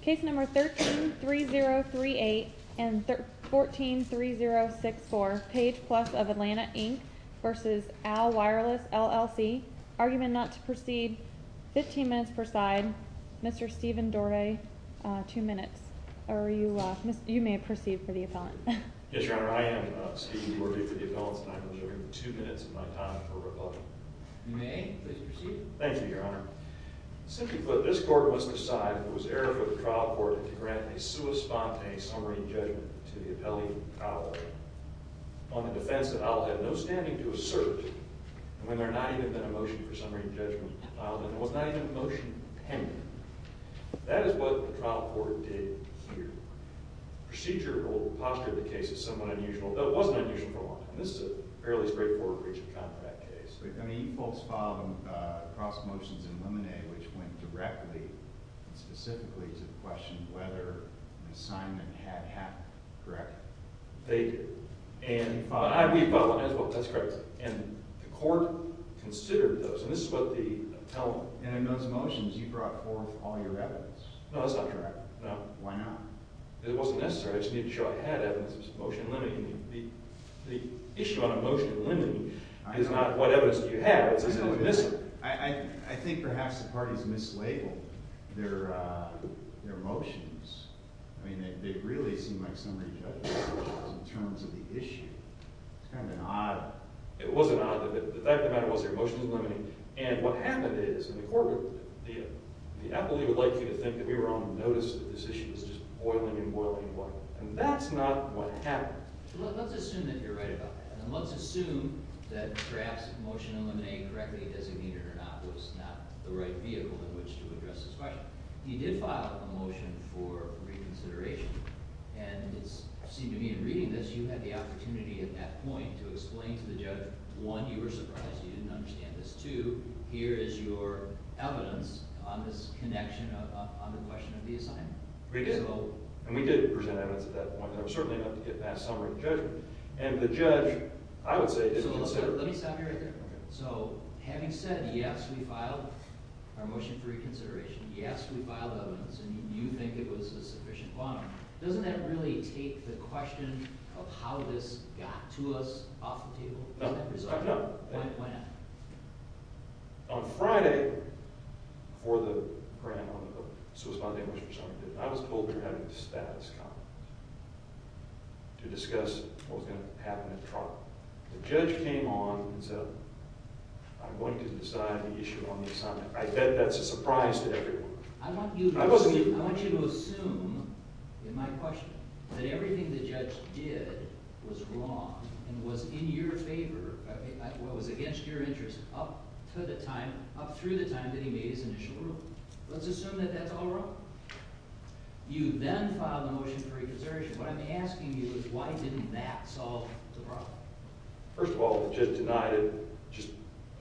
Case No. 13-3038 and 14-3064, Page Plus of Atlanta Inc v. Owl Wireless LLC Argument not to proceed. 15 minutes per side. Mr. Stephen Dorday, 2 minutes. Or you may proceed for the appellant. Yes, Your Honor. I am Stephen Dorday for the appellant and I'm observing 2 minutes of my time for rebuttal. You may please proceed. Thank you, Your Honor. Simply put, this court must decide if it was error for the trial court to grant a sua sponte summary judgment to the appellee, Owl, on the defense that Owl had no standing to assert, and when there had not even been a motion for summary judgment, Owl then was not even motion pending. That is what the trial court did here. Procedure will posture the case as somewhat unusual, though it wasn't unusual for a while. And this is a fairly straightforward breach of contract case. I mean, you folks filed cross motions in limine, which went directly and specifically to the question whether an assignment had happened. Correct? They did. And we filed one as well. That's correct. And the court considered those, and this is what the appellant did. And in those motions, you brought forth all your evidence. No, that's not correct. No, why not? It wasn't necessary. I just needed to show I had evidence. It was a motion limiting me. The issue on a motion limiting is not what evidence do you have. I think perhaps the parties mislabeled their motions. I mean, they really seem like summary judgment motions in terms of the issue. It's kind of an odd. It was an odd. The fact of the matter was their motion was limiting. And what happened is, in the courtroom, the appellee would like you to think that we were on notice that this issue was just boiling and boiling and boiling. And that's not what happened. Let's assume that you're right about that. And let's assume that perhaps motion eliminating correctly, designated or not, was not the right vehicle in which to address this question. You did file a motion for reconsideration. And it seemed to me in reading this, you had the opportunity at that point to explain to the judge, one, you were surprised you didn't understand this. Two, here is your evidence on this connection on the question of the assignment. And we did present evidence at that point. And there was certainly enough to get past summary judgment. And the judge, I would say, is a little concerned. Let me stop you right there. Okay. So having said, yes, we filed our motion for reconsideration, yes, we filed evidence, and you think it was a sufficient bond, doesn't that really take the question of how this got to us off the table? No. Why not? On Friday, before the program on the post, I was told we were having a status comment to discuss what was going to happen at trial. The judge came on and said, I'm going to decide the issue on the assignment. I bet that's a surprise to everyone. I want you to assume in my question that everything the judge did was wrong and was in your favor, was against your interest up to the time, up through the time that he made his initial ruling. Let's assume that that's all wrong. You then filed a motion for reconsideration. What I'm asking you is why didn't that solve the problem? First of all, the judge denied it just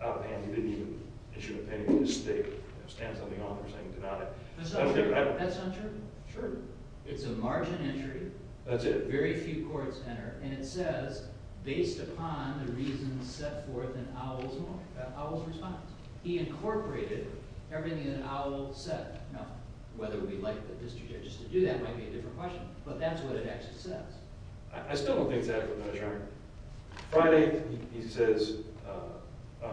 out of hand. He didn't even issue an opinion. He just stamped something on there saying deny. That's not true. That's not true? Sure. It's a margin entry. That's it. Very few courts enter, and it says, based upon the reasons set forth in Owell's response. He incorporated everything that Owell said. Now, whether we like the district judges to do that might be a different question, but that's what it actually says. I still don't think it's adequate measure. Friday, he says,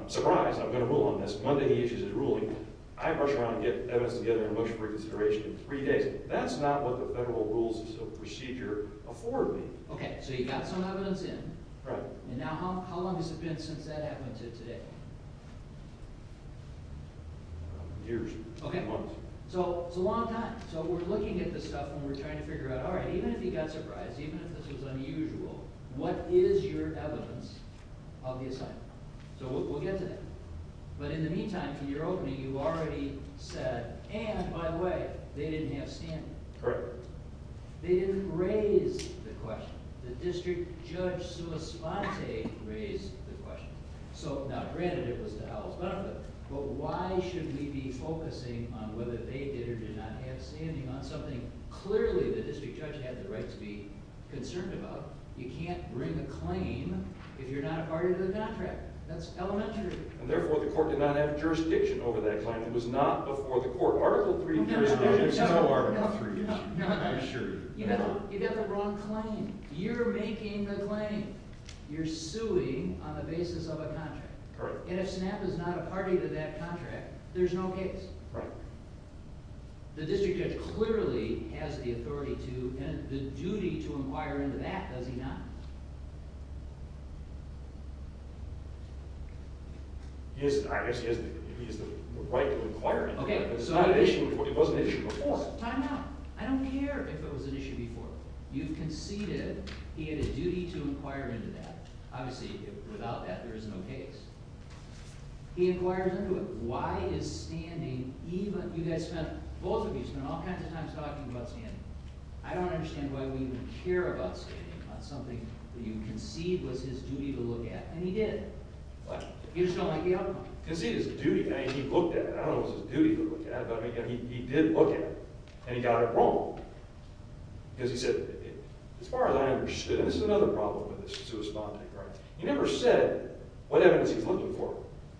surprise, I'm going to rule on this. Monday, he issues his ruling. I rush around and get evidence together in a motion for reconsideration in three days. That's not what the federal rules of procedure afford me. Okay, so you got some evidence in. Right. And now how long has it been since that happened to today? Years. Months. So it's a long time. So we're looking at this stuff, and we're trying to figure out, all right, even if he got surprised, even if this was unusual, what is your evidence of the assignment? So we'll get to that. But in the meantime, for your opening, you already said, and, by the way, they didn't have standing. Correct. They didn't raise the question. The district judge sui sponte raised the question. So, now, granted, it was the House, but why should we be focusing on whether they did or did not have standing on something clearly the district judge had the right to be concerned about? You can't bring a claim if you're not a party to the contract. That's elementary. And, therefore, the court did not have jurisdiction over that claim. It was not before the court. Article III jurisdiction is no Article III. I assure you. You got the wrong claim. You're making the claim. You're suing on the basis of a contract. Correct. And if SNAP is not a party to that contract, there's no case. Right. The district judge clearly has the authority to and the duty to inquire into that, does he not? I guess he has the right to inquire into that, but it wasn't an issue before. Time out. I don't care if it was an issue before. You conceded he had a duty to inquire into that. Obviously, without that, there is no case. He inquires into it. Why is standing even – you guys spent – both of you spent all kinds of times talking about standing. I don't understand why we care about standing on something that you conceded was his duty to look at, and he did. What? You just don't like the outcome. Conceded is a duty. I mean, he looked at it. I don't know if it was his duty to look at it, but, I mean, he did look at it, and he got it wrong. Because he said, as far as I understood – and this is another problem with this, to respond to it correctly – he never said what evidence he was looking for.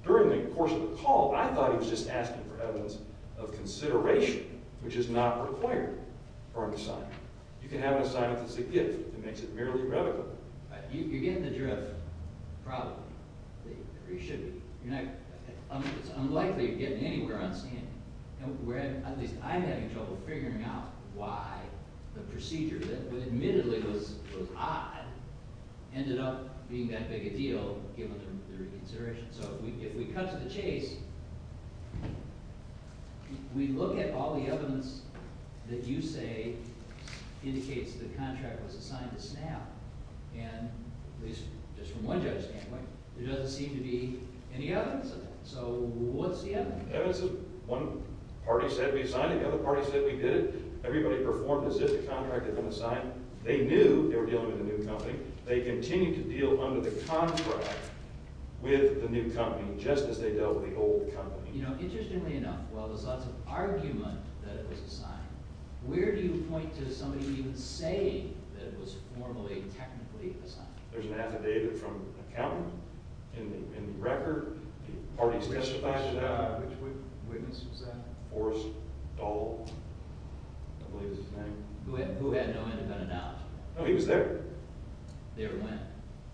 During the course of the call, I thought he was just asking for evidence of consideration, which is not required for an assignment. You can have an assignment that's a gift and makes it merely irrevocable. You're getting the drift, probably. Or you should be. You're not – it's unlikely you're getting anywhere on standing. At least I'm having trouble figuring out why the procedure that admittedly was odd ended up being that big a deal, given the reconsideration. So if we cut to the chase, we look at all the evidence that you say indicates the contract was assigned to SNAP, and at least just from one judge's standpoint, there doesn't seem to be any evidence of that. So what's the evidence? Evidence of one party said we assigned it, the other party said we didn't. Everybody performed as if the contract had been assigned. They knew they were dealing with a new company. They continued to deal under the contract with the new company, just as they dealt with the old company. You know, interestingly enough, while there's lots of argument that it was assigned, where do you point to somebody even saying that it was formally and technically assigned? There's an affidavit from the accountant in the record. Which witness was that? Forrest Dahl. I don't believe his name. Who had no independent knowledge. No, he was there. There when?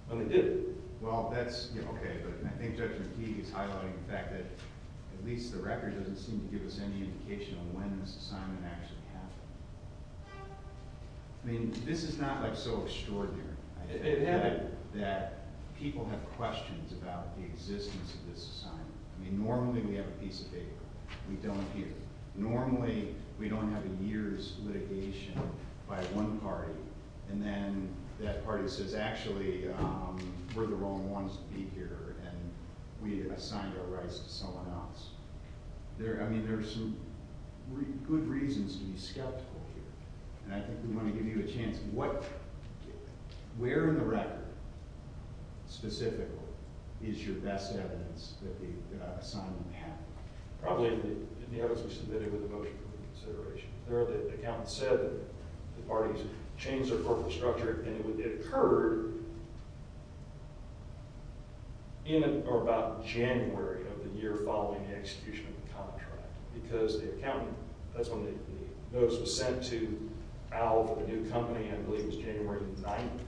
When they did it. Well, that's – okay, but I think Judge McKee is highlighting the fact that at least the record doesn't seem to give us any indication of when this assignment actually happened. I mean, this is not, like, so extraordinary. It added that people have questions about the existence of this assignment. I mean, normally we have a piece of paper. We don't here. Normally we don't have a year's litigation by one party, and then that party says, actually, we're the wrong ones to be here, and we assigned our rights to someone else. I mean, there are some good reasons to be skeptical here, and I think we want to give you a chance. Where in the record, specifically, is your best evidence that the assignment happened? Probably in the evidence we submitted with the motion for reconsideration. There the accountant said that the parties changed their corporate structure, and it occurred in or about January of the year following the execution of the contract. Because the accountant – that's when the notice was sent to Al for the new company, I believe it was January 9th.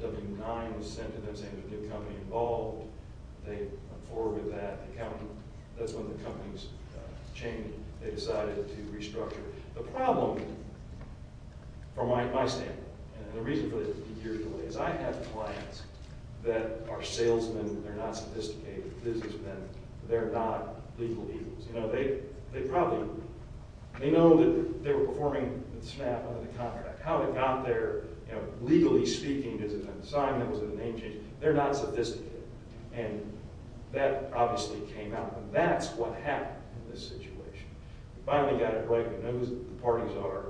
The W-9 was sent to them saying there was a new company involved. They went forward with that. The accountant – that's when the company was changed. They decided to restructure. The problem, from my standpoint, and the reason for this is a few years ago, is I have clients that are salesmen. They're not sophisticated businessmen. They're not legal eagles. You know, they probably – they know that they were performing the SNAP under the contract. How it got there, you know, legally speaking, is it an assignment, was it a name change? They're not sophisticated. And that obviously came out, and that's what happened in this situation. We finally got it right. We know who the parties are,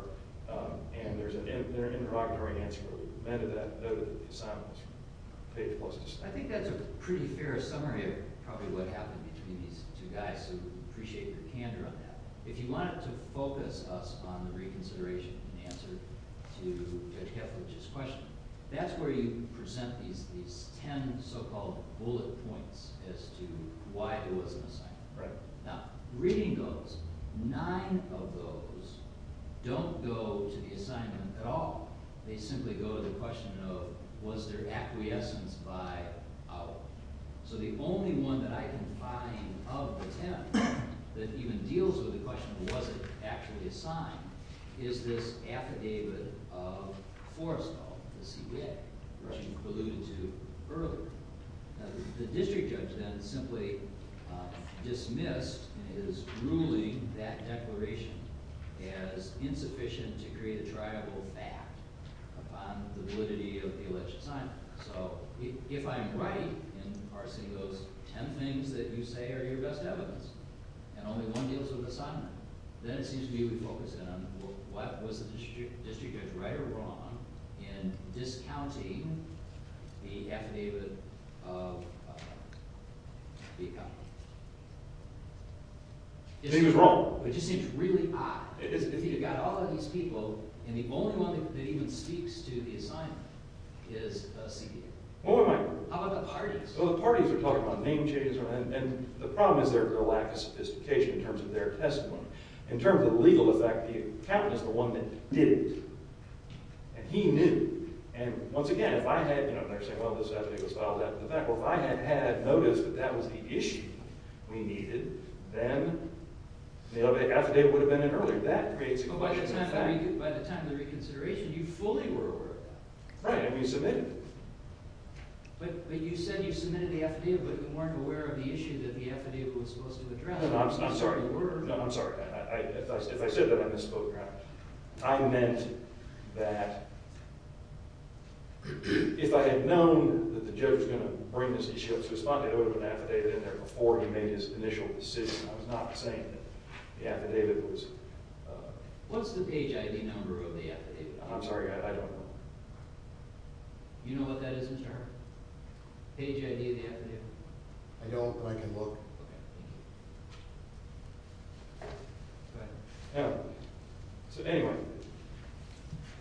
and there's an interrogatory answer where we prevented that. We know that the assignment was paid for by the SNAP. I think that's a pretty fair summary of probably what happened between these two guys, so we appreciate your candor on that. If you wanted to focus us on the reconsideration in answer to Judge Keflach's question, that's where you present these ten so-called bullet points as to why it was an assignment. Now, reading those, nine of those don't go to the assignment at all. They simply go to the question of was there acquiescence by our. So the only one that I can find of the ten that even deals with the question of was it actually assigned is this affidavit of Forestall, the CBA, which you alluded to earlier. The district judge then simply dismissed in his ruling that declaration as insufficient to create a triable fact upon the validity of the alleged assignment. So if I'm right in parsing those ten things that you say are your best evidence and only one deals with the assignment, then it seems to me we focus in on what was the district judge right or wrong in discounting the affidavit of the accountant. He was wrong. It just seems really odd. If you've got all of these people and the only one that even speaks to the assignment is CBA. How about the parties? Well, the parties are talking about name changes and the problem is their lack of sophistication in terms of their testimony. In terms of the legal effect, the accountant is the one that did it, and he knew. And once again, if I had noticed that that was the issue we needed, then the affidavit would have been in earlier. That creates a question of fact. By the time of the reconsideration, you fully were aware of that. Right, and we submitted it. But you said you submitted the affidavit, but you weren't aware of the issue that the affidavit was supposed to address. No, I'm sorry. If I said that, I misspoke. I meant that if I had known that the judge was going to bring this issue up to respond, it would have been affidavit in there before he made his initial decision. I was not saying that the affidavit was… What's the page ID number of the affidavit? I'm sorry, I don't know. You know what that is in terms? Page ID of the affidavit? I don't, but I can look. Okay. Go ahead. Anyway,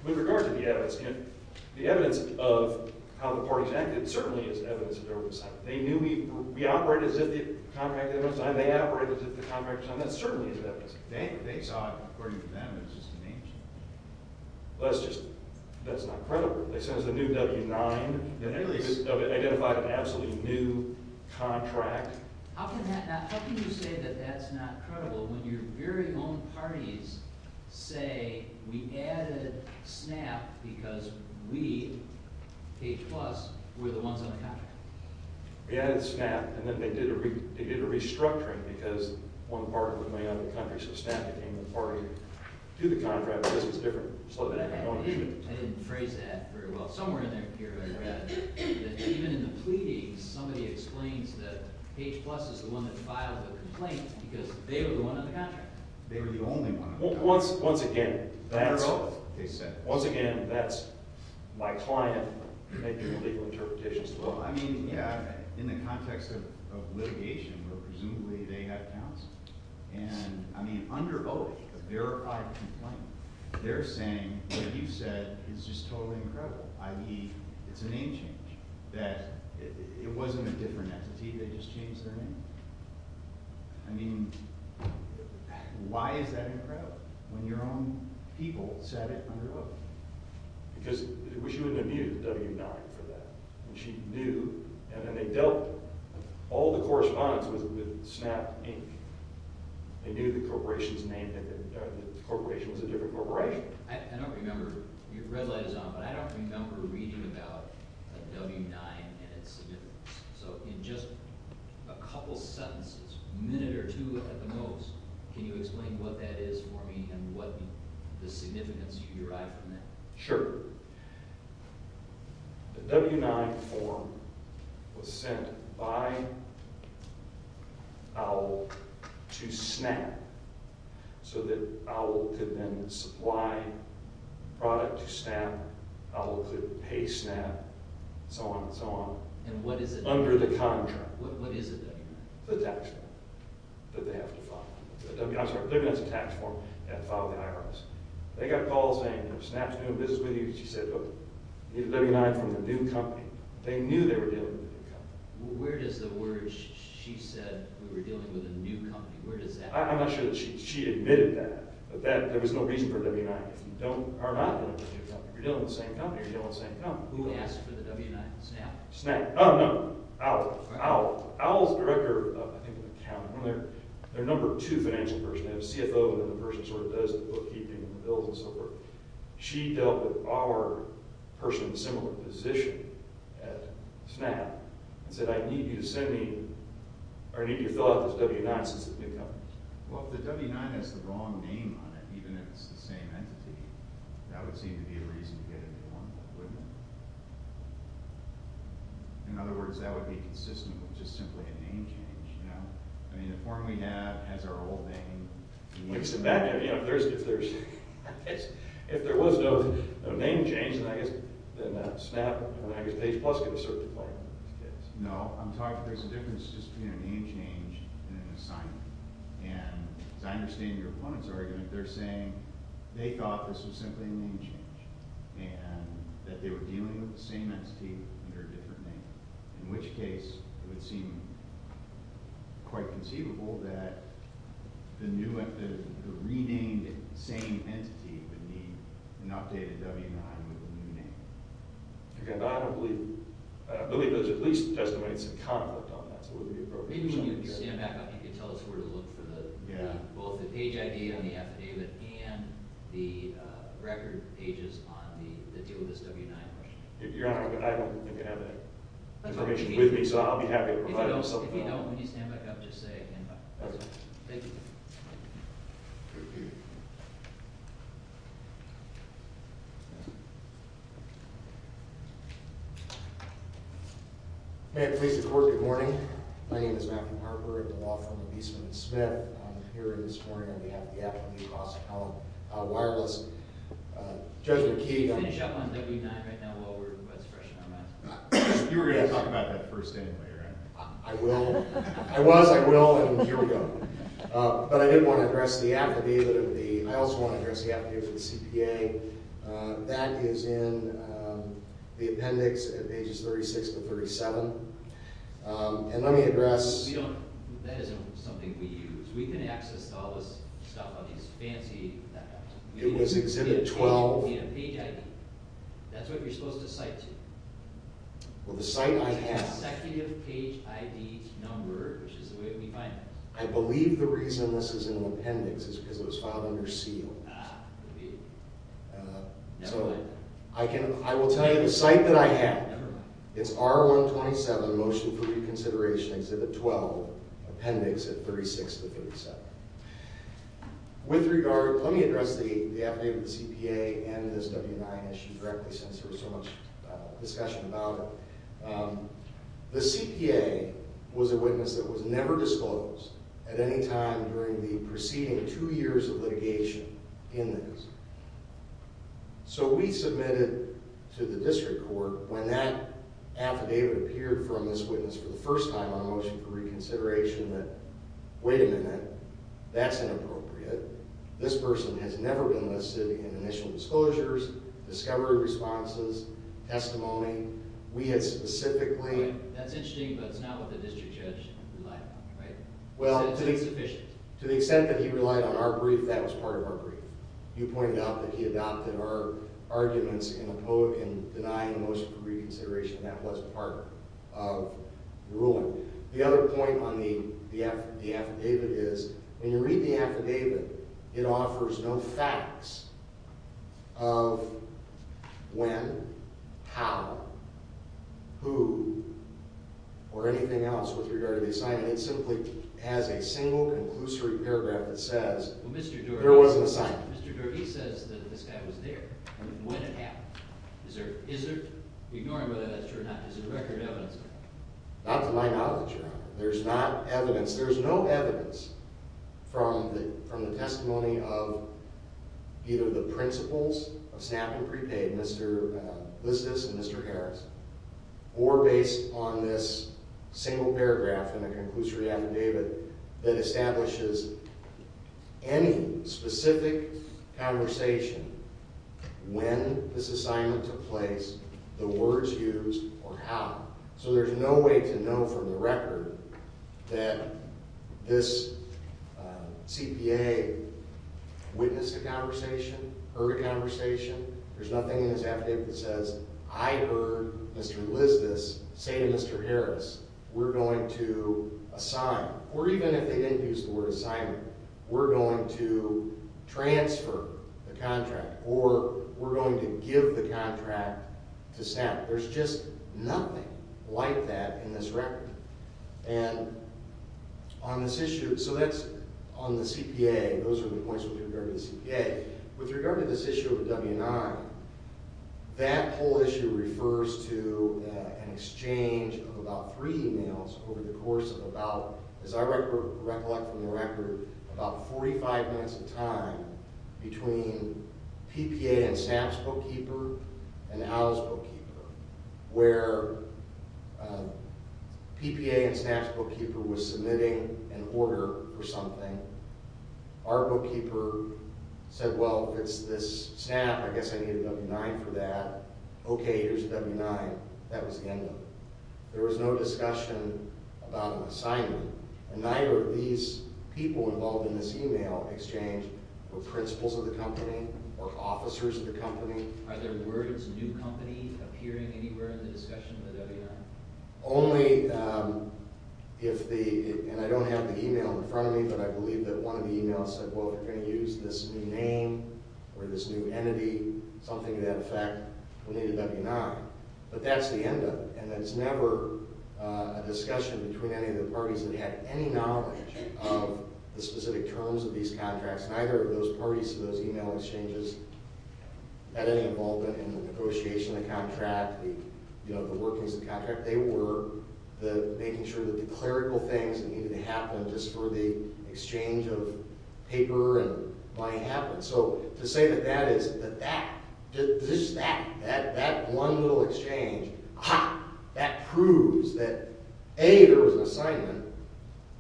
with regard to the evidence, the evidence of how the parties acted certainly is evidence of their oversight. They knew we operated as if the contract was signed. They operated as if the contract was signed. That certainly is evidence. They saw it. According to them, it was just a name change. Well, that's not credible. They sent us a new W-9. They identified an absolutely new contract. How can you say that that's not credible when your very own parties say, we added SNAP because we, page plus, were the ones on the contract? We added SNAP, and then they did a restructuring because one part of it went out of the country, so SNAP became the party to the contract because it's different. I didn't phrase that very well. Somewhere in there, here, I read that even in the pleadings, somebody explains that page plus is the one that filed the complaint because they were the one on the contract. They were the only one on the contract. Once again, that's my client making legal interpretations. Well, I mean, yeah, in the context of litigation where presumably they had counsel. And, I mean, under oath, a verified complaint, they're saying what you said is just totally incredible. I.e., it's a name change. That it wasn't a different entity. They just changed their name. I mean, why is that incredible when your own people said it under oath? Because she wouldn't have used W-9 for that. She knew, and then they dealt with all the correspondence with SNAP, Inc. They knew the corporation's name, that the corporation was a different corporation. I don't remember. Your red light is on. But I don't remember reading about a W-9 and its significance. So, in just a couple sentences, a minute or two at the most, can you explain what that is for me and what the significance you derive from that? Sure. The W-9 form was sent by OWL to SNAP so that OWL could then supply product to SNAP, OWL could pay SNAP, and so on and so on. And what is it? Under the contract. What is the W-9? The tax form that they have to file. The W-9, I'm sorry, they're going to have to file the IRS. They got a call saying, you know, SNAP's doing business with you. She said, look, you need a W-9 from the new company. They knew they were dealing with a new company. Where does the word, she said, we were dealing with a new company, where does that come from? I'm not sure that she admitted that, but there was no reason for a W-9. If you don't, or are not dealing with a new company, if you're dealing with the same company, you're dealing with the same company. Who asked for the W-9? SNAP? SNAP. Oh, no. OWL. OWL. OWL's director of, I think, an account. They're a number two financial person. They have a CFO, and then the person sort of does the bookkeeping and the bills and so forth. She dealt with our person in a similar position at SNAP, and said, I need you to send me, or I need you to fill out this W-9 since it's a new company. Well, if the W-9 has the wrong name on it, even if it's the same entity, that would seem to be a reason to get a new one, wouldn't it? In other words, that would be consistent with just simply a name change, you know? I mean, the form we have has our old name. If there was no name change, then I guess SNAP and AgriState Plus could be certified. No, I'm talking, there's a difference just between a name change and an assignment. And as I understand your opponent's argument, they're saying they thought this was simply a name change, and that they were dealing with the same entity under a different name, in which case it would seem quite conceivable that the new, the renamed same entity would need an updated W-9 with a new name. I don't believe, I believe there's at least estimates of conduct on that, so it would be appropriate. Maybe when you stand back up, you can tell us where to look for the, both the page ID on the affidavit and the record pages on the deal with this W-9 question. If you're not, I don't think you have that information with me, so I'll be happy to provide it myself. If you don't, if you don't, when you stand back up, just say it again. Okay. Thank you. May it please the Court, good morning. My name is Matthew Harper at the law firm of Eastman & Smith. I'm here this morning on behalf of the Appleton-New Brossetown Wireless. Judge McKee. Can you finish up on W-9 right now while we're, while it's fresh in our minds? You were going to talk about that first anyway, right? I will. I was, I will, and here we go. But I did want to address the affidavit of the, I also want to address the affidavit of the CPA. That is in the appendix at pages 36 to 37. And let me address... We don't, that isn't something we use. We can access all this stuff on these fancy... It was Exhibit 12. We need a page ID. That's what you're supposed to cite to. Well, the cite I have... It's the consecutive page ID number, which is the way we find it. I believe the reason this is in the appendix is because it was filed under seal. Ah. So, I can, I will tell you the cite that I have, it's R-127, motion for reconsideration, Exhibit 12, appendix at 36 to 37. With regard, let me address the affidavit of the CPA and this W-9 issue directly since there was so much discussion about it. The CPA was a witness that was never disclosed at any time during the preceding two years of litigation in this. So, we submitted to the district court when that affidavit appeared from this witness for the first time on a motion for reconsideration that, wait a minute, that's inappropriate. This person has never been listed in initial disclosures, discovery responses, testimony. We had specifically... That's interesting, but it's not what the district judge relied on, right? To the extent that he relied on our brief, that was part of our brief. You pointed out that he adopted our arguments in denying the motion for reconsideration. That was part of the ruling. The other point on the affidavit is when you read the affidavit, it offers no facts of when, how, who, or anything else with regard to the assignment. It simply has a single conclusory paragraph that says there was an assignment. Mr. Doherty says that this guy was there and when it happened. Is there, ignoring whether that's true or not, is there record evidence? There's no evidence from the testimony of either the principals of SNAP and prepaid, Mr. Listis and Mr. Harris, or based on this single paragraph in the conclusory affidavit that establishes any specific conversation, when this assignment took place, the words used, or how. So there's no way to know from the record that this CPA witnessed a conversation, heard a conversation. There's nothing in this affidavit that says I heard Mr. Listis say to Mr. Harris, we're going to assign, or even if they didn't use the word assignment, we're going to transfer the contract or we're going to give the contract to SNAP. There's just nothing like that in this record. And on this issue, so that's on the CPA, those are the points with regard to the CPA. With regard to this issue with W&I, that whole issue refers to an exchange of about three emails over the course of about, as I recollect from the record, about 45 minutes of time between PPA and SNAP's bookkeeper and Al's bookkeeper, where PPA and SNAP's bookkeeper was submitting an order for something. Our bookkeeper said, well, it's this SNAP, I guess I need a W&I for that. Okay, here's a W&I. That was the end of it. There was no discussion about an assignment, and neither of these people involved in this email exchange were principals of the company or officers of the company. Are there words new company appearing anywhere in the discussion of the W&I? Only if the, and I don't have the email in front of me, but I believe that one of the emails said, well, we're going to use this new name or this new entity, something to that effect, we'll need a W&I. But that's the end of it, and it's never a discussion between any of the parties that had any knowledge of the specific terms of these contracts. Neither of those parties to those email exchanges had any involvement in the negotiation of the contract, the workings of the contract. They were making sure that the clerical things that needed to happen just for the exchange of paper and money happened. So to say that that is, that that, just that, that one little exchange, aha, that proves that, A, there was an assignment.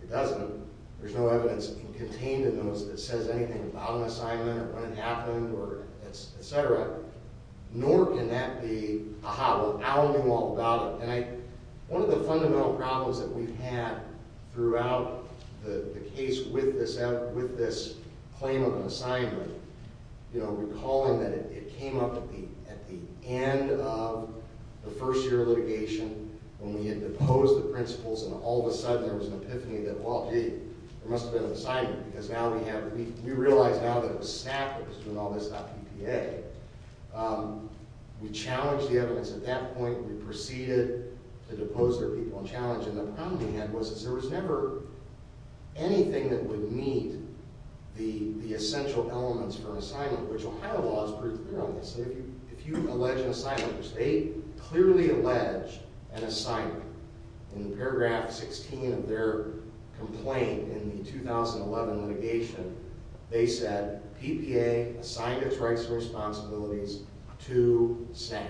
It doesn't. There's no evidence contained in those that says anything about an assignment or when it happened or et cetera. Nor can that be, aha, well, now I know all about it. And I, one of the fundamental problems that we've had throughout the case with this claim of an assignment, you know, recalling that it came up at the end of the first year of litigation when we had deposed the principals and all of a sudden there was an epiphany that, well, gee, there must have been an assignment because now we have, we realize now that it was staffers doing all this, not PPA. We challenged the evidence at that point. We proceeded to depose their people and challenge them. The problem we had was that there was never anything that would meet the essential elements for an assignment, which Ohio law has proved to be wrong in this. If you allege an assignment, which they clearly allege an assignment, in paragraph 16 of their complaint in the 2011 litigation, they said PPA assigned its rights and responsibilities to staff.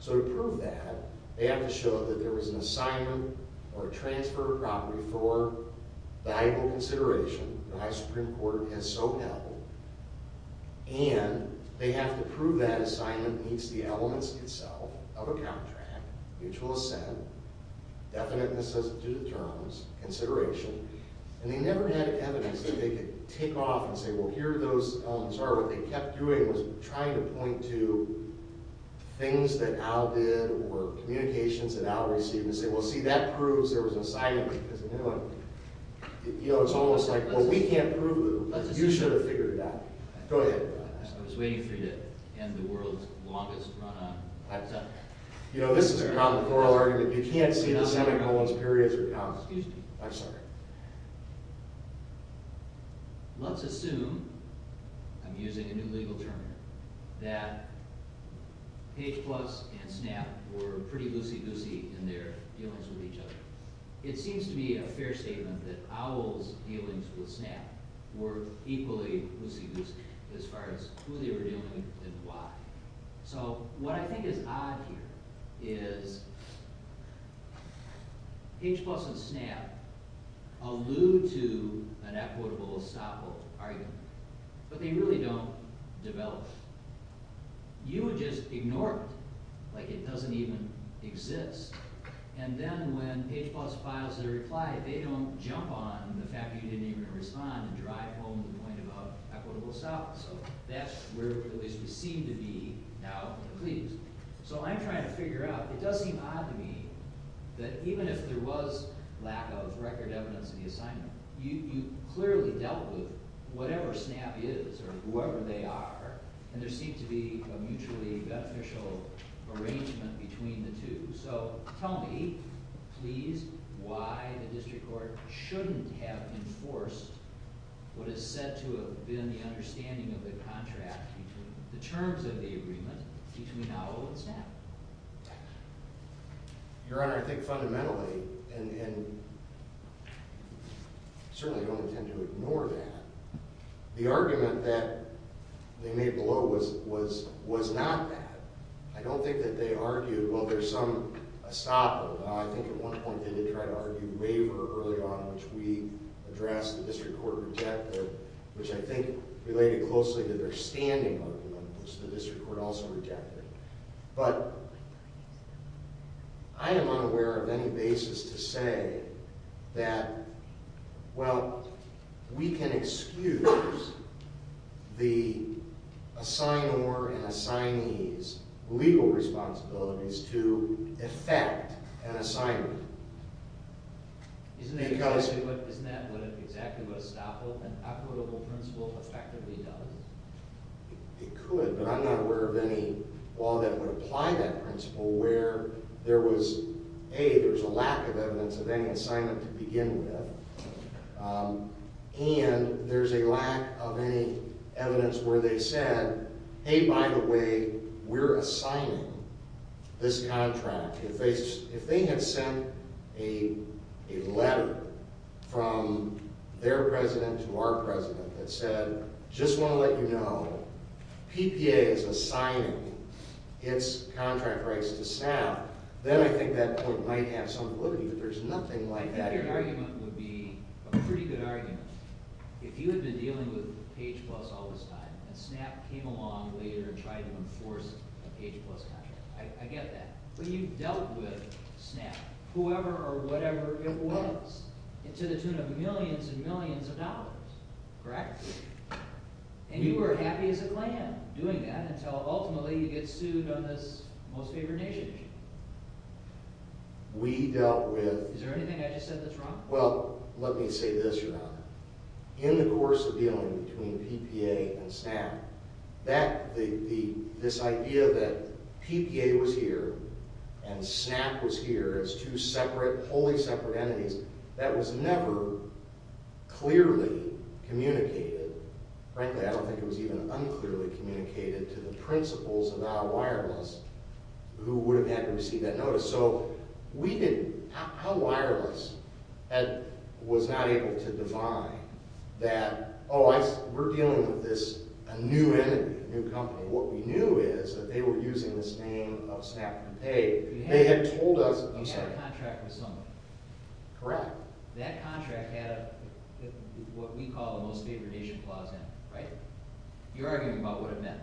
So to prove that, they have to show that there was an assignment or a transfer of property for valuable consideration. The Ohio Supreme Court has so held. And they have to prove that assignment meets the elements itself of a contract, mutual assent, definite necessity to terms, consideration. And they never had evidence that they could take off and say, well, here are those elements are. What they kept doing was trying to point to things that Al did or communications that Al received and say, well, see, that proves there was an assignment. You know, it's almost like, well, we can't prove it. You should have figured it out. Go ahead. I was waiting for you to end the world's longest run on 5-7. You know, this is a common plural argument. You can't see the semicolons periods are common. Excuse me. I'm sorry. Let's assume, I'm using a new legal term here, that H-plus and SNAP were pretty loosey-goosey in their dealings with each other. It seems to be a fair statement that Al's dealings with SNAP were equally loosey-goosey as far as who they were dealing with and why. So what I think is odd here is H-plus and SNAP allude to an equitable estoppel argument, but they really don't develop. You would just ignore it like it doesn't even exist. And then when H-plus files their reply, they don't jump on the fact that you didn't even respond and drive home the point about equitable estoppel. So that's where we seem to be now in the pleas. So I'm trying to figure out, it does seem odd to me, that even if there was lack of record evidence in the assignment, you clearly dealt with whatever SNAP is or whoever they are, and there seemed to be a mutually beneficial arrangement between the two. So tell me, please, why the district court shouldn't have enforced what is said to have been the understanding of the contract in terms of the agreement between Al and SNAP? Your Honor, I think fundamentally, and I certainly don't intend to ignore that, the argument that they made below was not that. I don't think that they argued, well, there's some estoppel. I think at one point they did try to argue waiver early on, which we addressed, the district court rejected, which I think related closely to their standing argument, which the district court also rejected. But I am unaware of any basis to say that, well, we can excuse the assignor and assignee's legal responsibilities to effect an assignment. Isn't that exactly what estoppel, an equitable principle, effectively does? It could, but I'm not aware of any law that would apply that principle where there was, A, there was a lack of evidence of any assignment to begin with, and there's a lack of any evidence where they said, hey, by the way, we're assigning this contract. If they had sent a letter from their president to our president that said, just want to let you know, PPA is assigning its contract rights to SNAP, then I think that point might have some validity, but there's nothing like that here. I think your argument would be a pretty good argument. If you had been dealing with Page Plus all this time, and SNAP came along later and tried to enforce a Page Plus contract, I get that. But you dealt with SNAP, whoever or whatever it was, to the tune of millions and millions of dollars, correct? And you were happy as a clam doing that, until ultimately you get sued on this Most Favored Nation issue. We dealt with... Is there anything I just said that's wrong? Well, let me say this, your Honor. In the course of dealing between PPA and SNAP, this idea that PPA was here and SNAP was here, as two separate, wholly separate entities, that was never clearly communicated. Frankly, I don't think it was even unclearly communicated to the principals of our wireless who would have had to receive that notice. So we didn't... How wireless was not able to define that, oh, we're dealing with a new entity, a new company. What we knew is that they were using this name of SNAP to pay. They had told us... You had a contract with someone. Correct. That contract had what we call a Most Favored Nation clause in it, right? You're arguing about what it meant.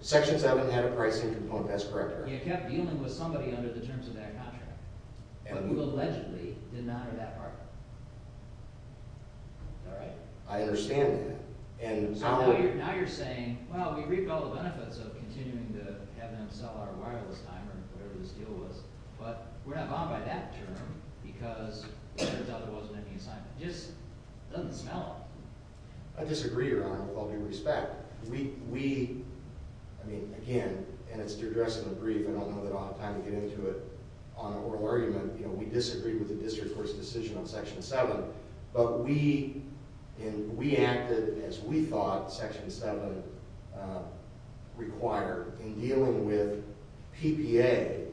Section 7 had a pricing component, that's correct. You kept dealing with somebody under the terms of that contract, but you allegedly did not have that partner. Is that right? I understand that. Now you're saying, well, we reaped all the benefits of continuing to have them sell our wireless timer, or whatever this deal was, but we're not bothered by that term because it turns out there wasn't any assignment. It just doesn't smell. I disagree, your Honor, with all due respect. I mean, again, and it's to address in a brief. I don't know that I'll have time to get into it on an oral argument. We disagree with the District Court's decision on Section 7, but we acted as we thought Section 7 required in dealing with PPA.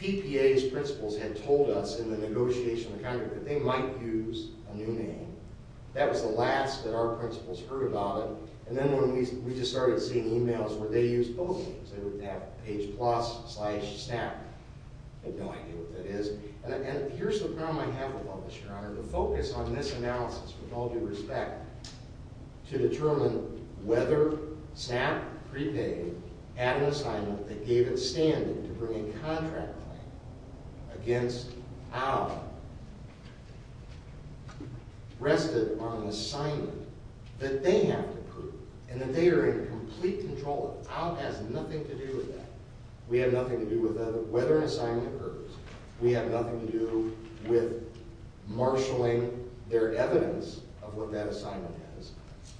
PPA's principals had told us in the negotiation of the contract that they might use a new name. That was the last that our principals heard about it, and then when we just started seeing e-mails where they used both names, they would have page plus slash SNAP. They have no idea what that is, and here's the problem I have with all this, your Honor. The focus on this analysis, with all due respect, to determine whether SNAP prepaid at an assignment that gave it standing to bring a contract claim against our rested on an assignment that they have to prove and that they are in complete control of. Our has nothing to do with that. We have nothing to do with whether an assignment occurs. We have nothing to do with marshaling their evidence of what that assignment is.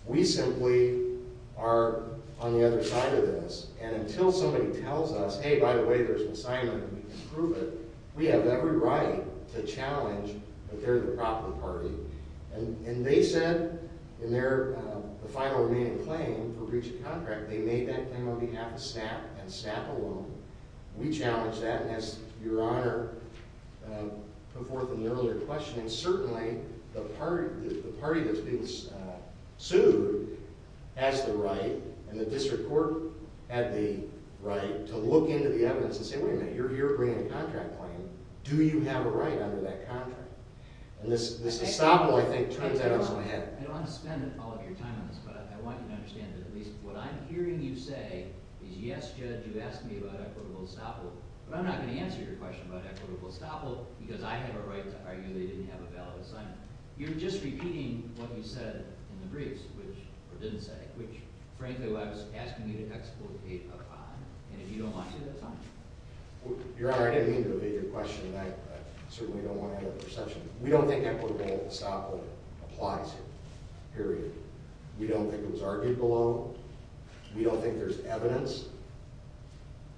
We simply are on the other side of this, and until somebody tells us, hey, by the way, there's an assignment and we can prove it, we have every right to challenge that they're the proper party. And they said in their final remaining claim for breach of contract, they made that claim on behalf of SNAP and SNAP alone. We challenged that, and as your Honor put forth in the earlier question, certainly the party that's being sued has the right, and the district court had the right to look into the evidence and say, wait a minute, you're bringing a contract claim. Do you have a right under that contract? And this estoppel, I think, turns out to be... I don't want to spend all of your time on this, but I want you to understand that at least what I'm hearing you say is, yes, Judge, you asked me about equitable estoppel, but I'm not going to answer your question about equitable estoppel because I have a right to argue they didn't have a valid assignment. You're just repeating what you said in the briefs, or didn't say, which, frankly, I was asking you to explicate upon, and if you don't like it, that's fine. Your Honor, I didn't mean to evade your question, and I certainly don't want to end up with a recession. We don't think equitable estoppel applies here, period. We don't think it was argued below. We don't think there's evidence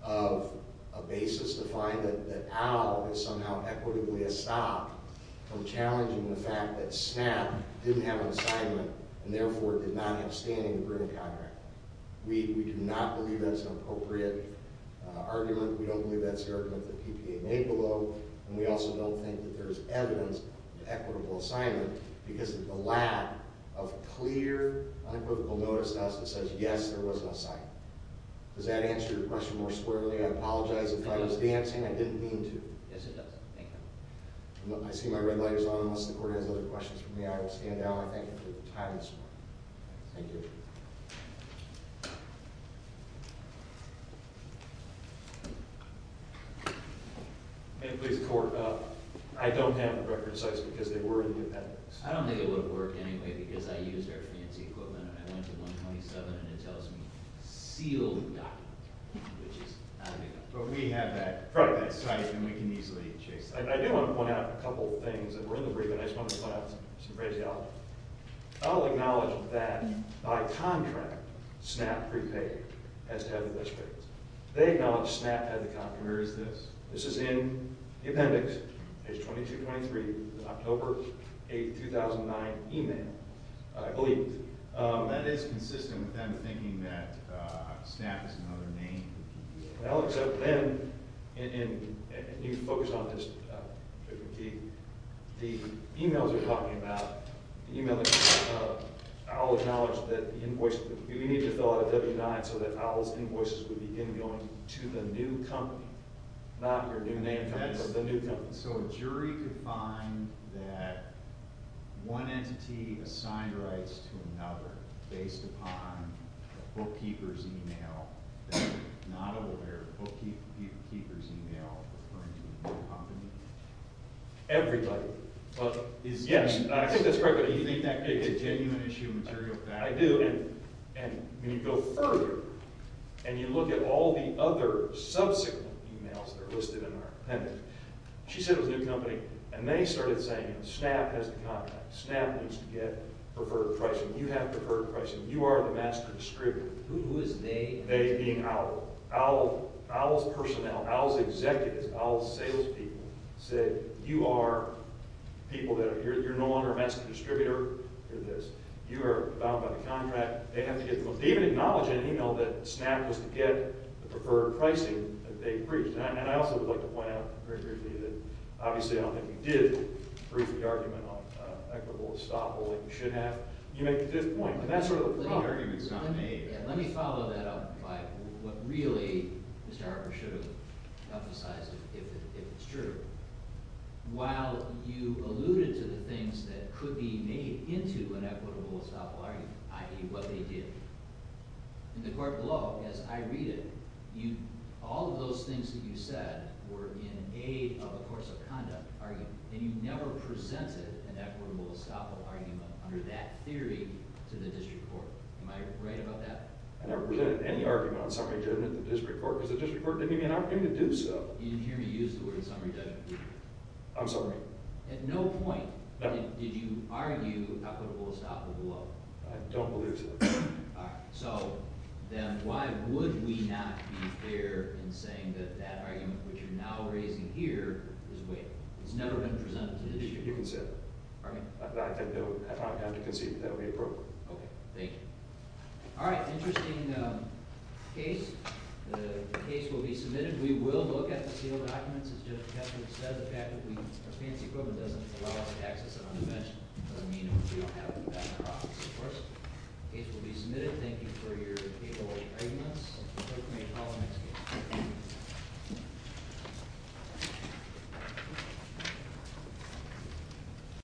of a basis to find that Al is somehow equitably estopped from challenging the fact that SNAP didn't have an assignment, and therefore did not have standing to bring a contract. We do not believe that's an appropriate argument. We don't believe that's the argument that PPA made below, and we also don't think that there's evidence of equitable assignment because of the lack of clear, unequivocal notice to us that says, yes, there was an assignment. Does that answer your question more squarely? I apologize if I was dancing. I didn't mean to. Yes, it does. Thank you. I see my red light is on. Unless the Court has other questions for me, I will stand down. I thank you for your time this morning. Thank you. May it please the Court. I don't have the record of sites because they were in the appendix. I don't think it would have worked anyway because I used their fancy equipment, and I went to 127, and it tells me sealed document, which is not a good thing. But we have that site, and we can easily chase it. I do want to point out a couple of things. We're in the brief, and I just want to point out some crazy stuff. I'll acknowledge that by contract, SNAP prepaid as head of this case. They acknowledge SNAP had the contract. Where is this? This is in the appendix. Page 2223, October 8, 2009, email, I believe. That is consistent with them thinking that SNAP is another name. Well, except then, and you can focus on this. The emails are talking about the email that Owl acknowledged that the invoice would be. We need to fill out a W-9 so that Owl's invoices would be in going to the new company, not your new name company, but the new company. So a jury could find that one entity assigned rights to another based upon the bookkeeper's email, not aware of the bookkeeper's email referring to the new company? Everybody. Yes, I think that's correct. Do you think that gave a genuine issue of material fact? I do, and when you go further and you look at all the other subsequent emails that are listed in our appendix, she said it was a new company, and they started saying, SNAP has the contract. SNAP needs to get preferred pricing. You have preferred pricing. You are the master distributor. Who is they? They being Owl. Owl's personnel, Owl's executives, Owl's salespeople said, you are people that are here. You're no longer a master distributor. You're this. You are bound by the contract. They have to get the most. They even acknowledge in an email that SNAP was to get the preferred pricing that they've briefed. And I also would like to point out very briefly that, obviously, I don't think we did brief the argument on equitable estoppel that we should have. You make a good point, and that's sort of the problem. Let me follow that up by what really Mr. Harper should have emphasized, if it's true. While you alluded to the things that could be made into an equitable estoppel argument, i.e., what they did, in the court below, as I read it, all of those things that you said were in aid of a course of conduct argument, and you never presented an equitable estoppel argument under that theory to the district court. Am I right about that? I never presented any argument on summary judgment to the district court because the district court didn't give me an argument to do so. You didn't hear me use the word summary judgment, did you? I'm sorry? At no point did you argue equitable estoppel below. I don't believe so. All right. So then why would we not be there in saying that that argument, which you're now raising here, is weighted? It's never been presented to the district court. You can say that. All right. I don't have to concede that that would be appropriate. Okay. Thank you. All right. Interesting case. The case will be submitted. We will look at the sealed documents. As Judge Kessler said, the fact that we have fancy equipment doesn't allow us to access it on the bench. It doesn't mean we don't have it in the back of the office, of course. The case will be submitted. Thank you for your capability to argue with us. Thank you. Thank you. All right.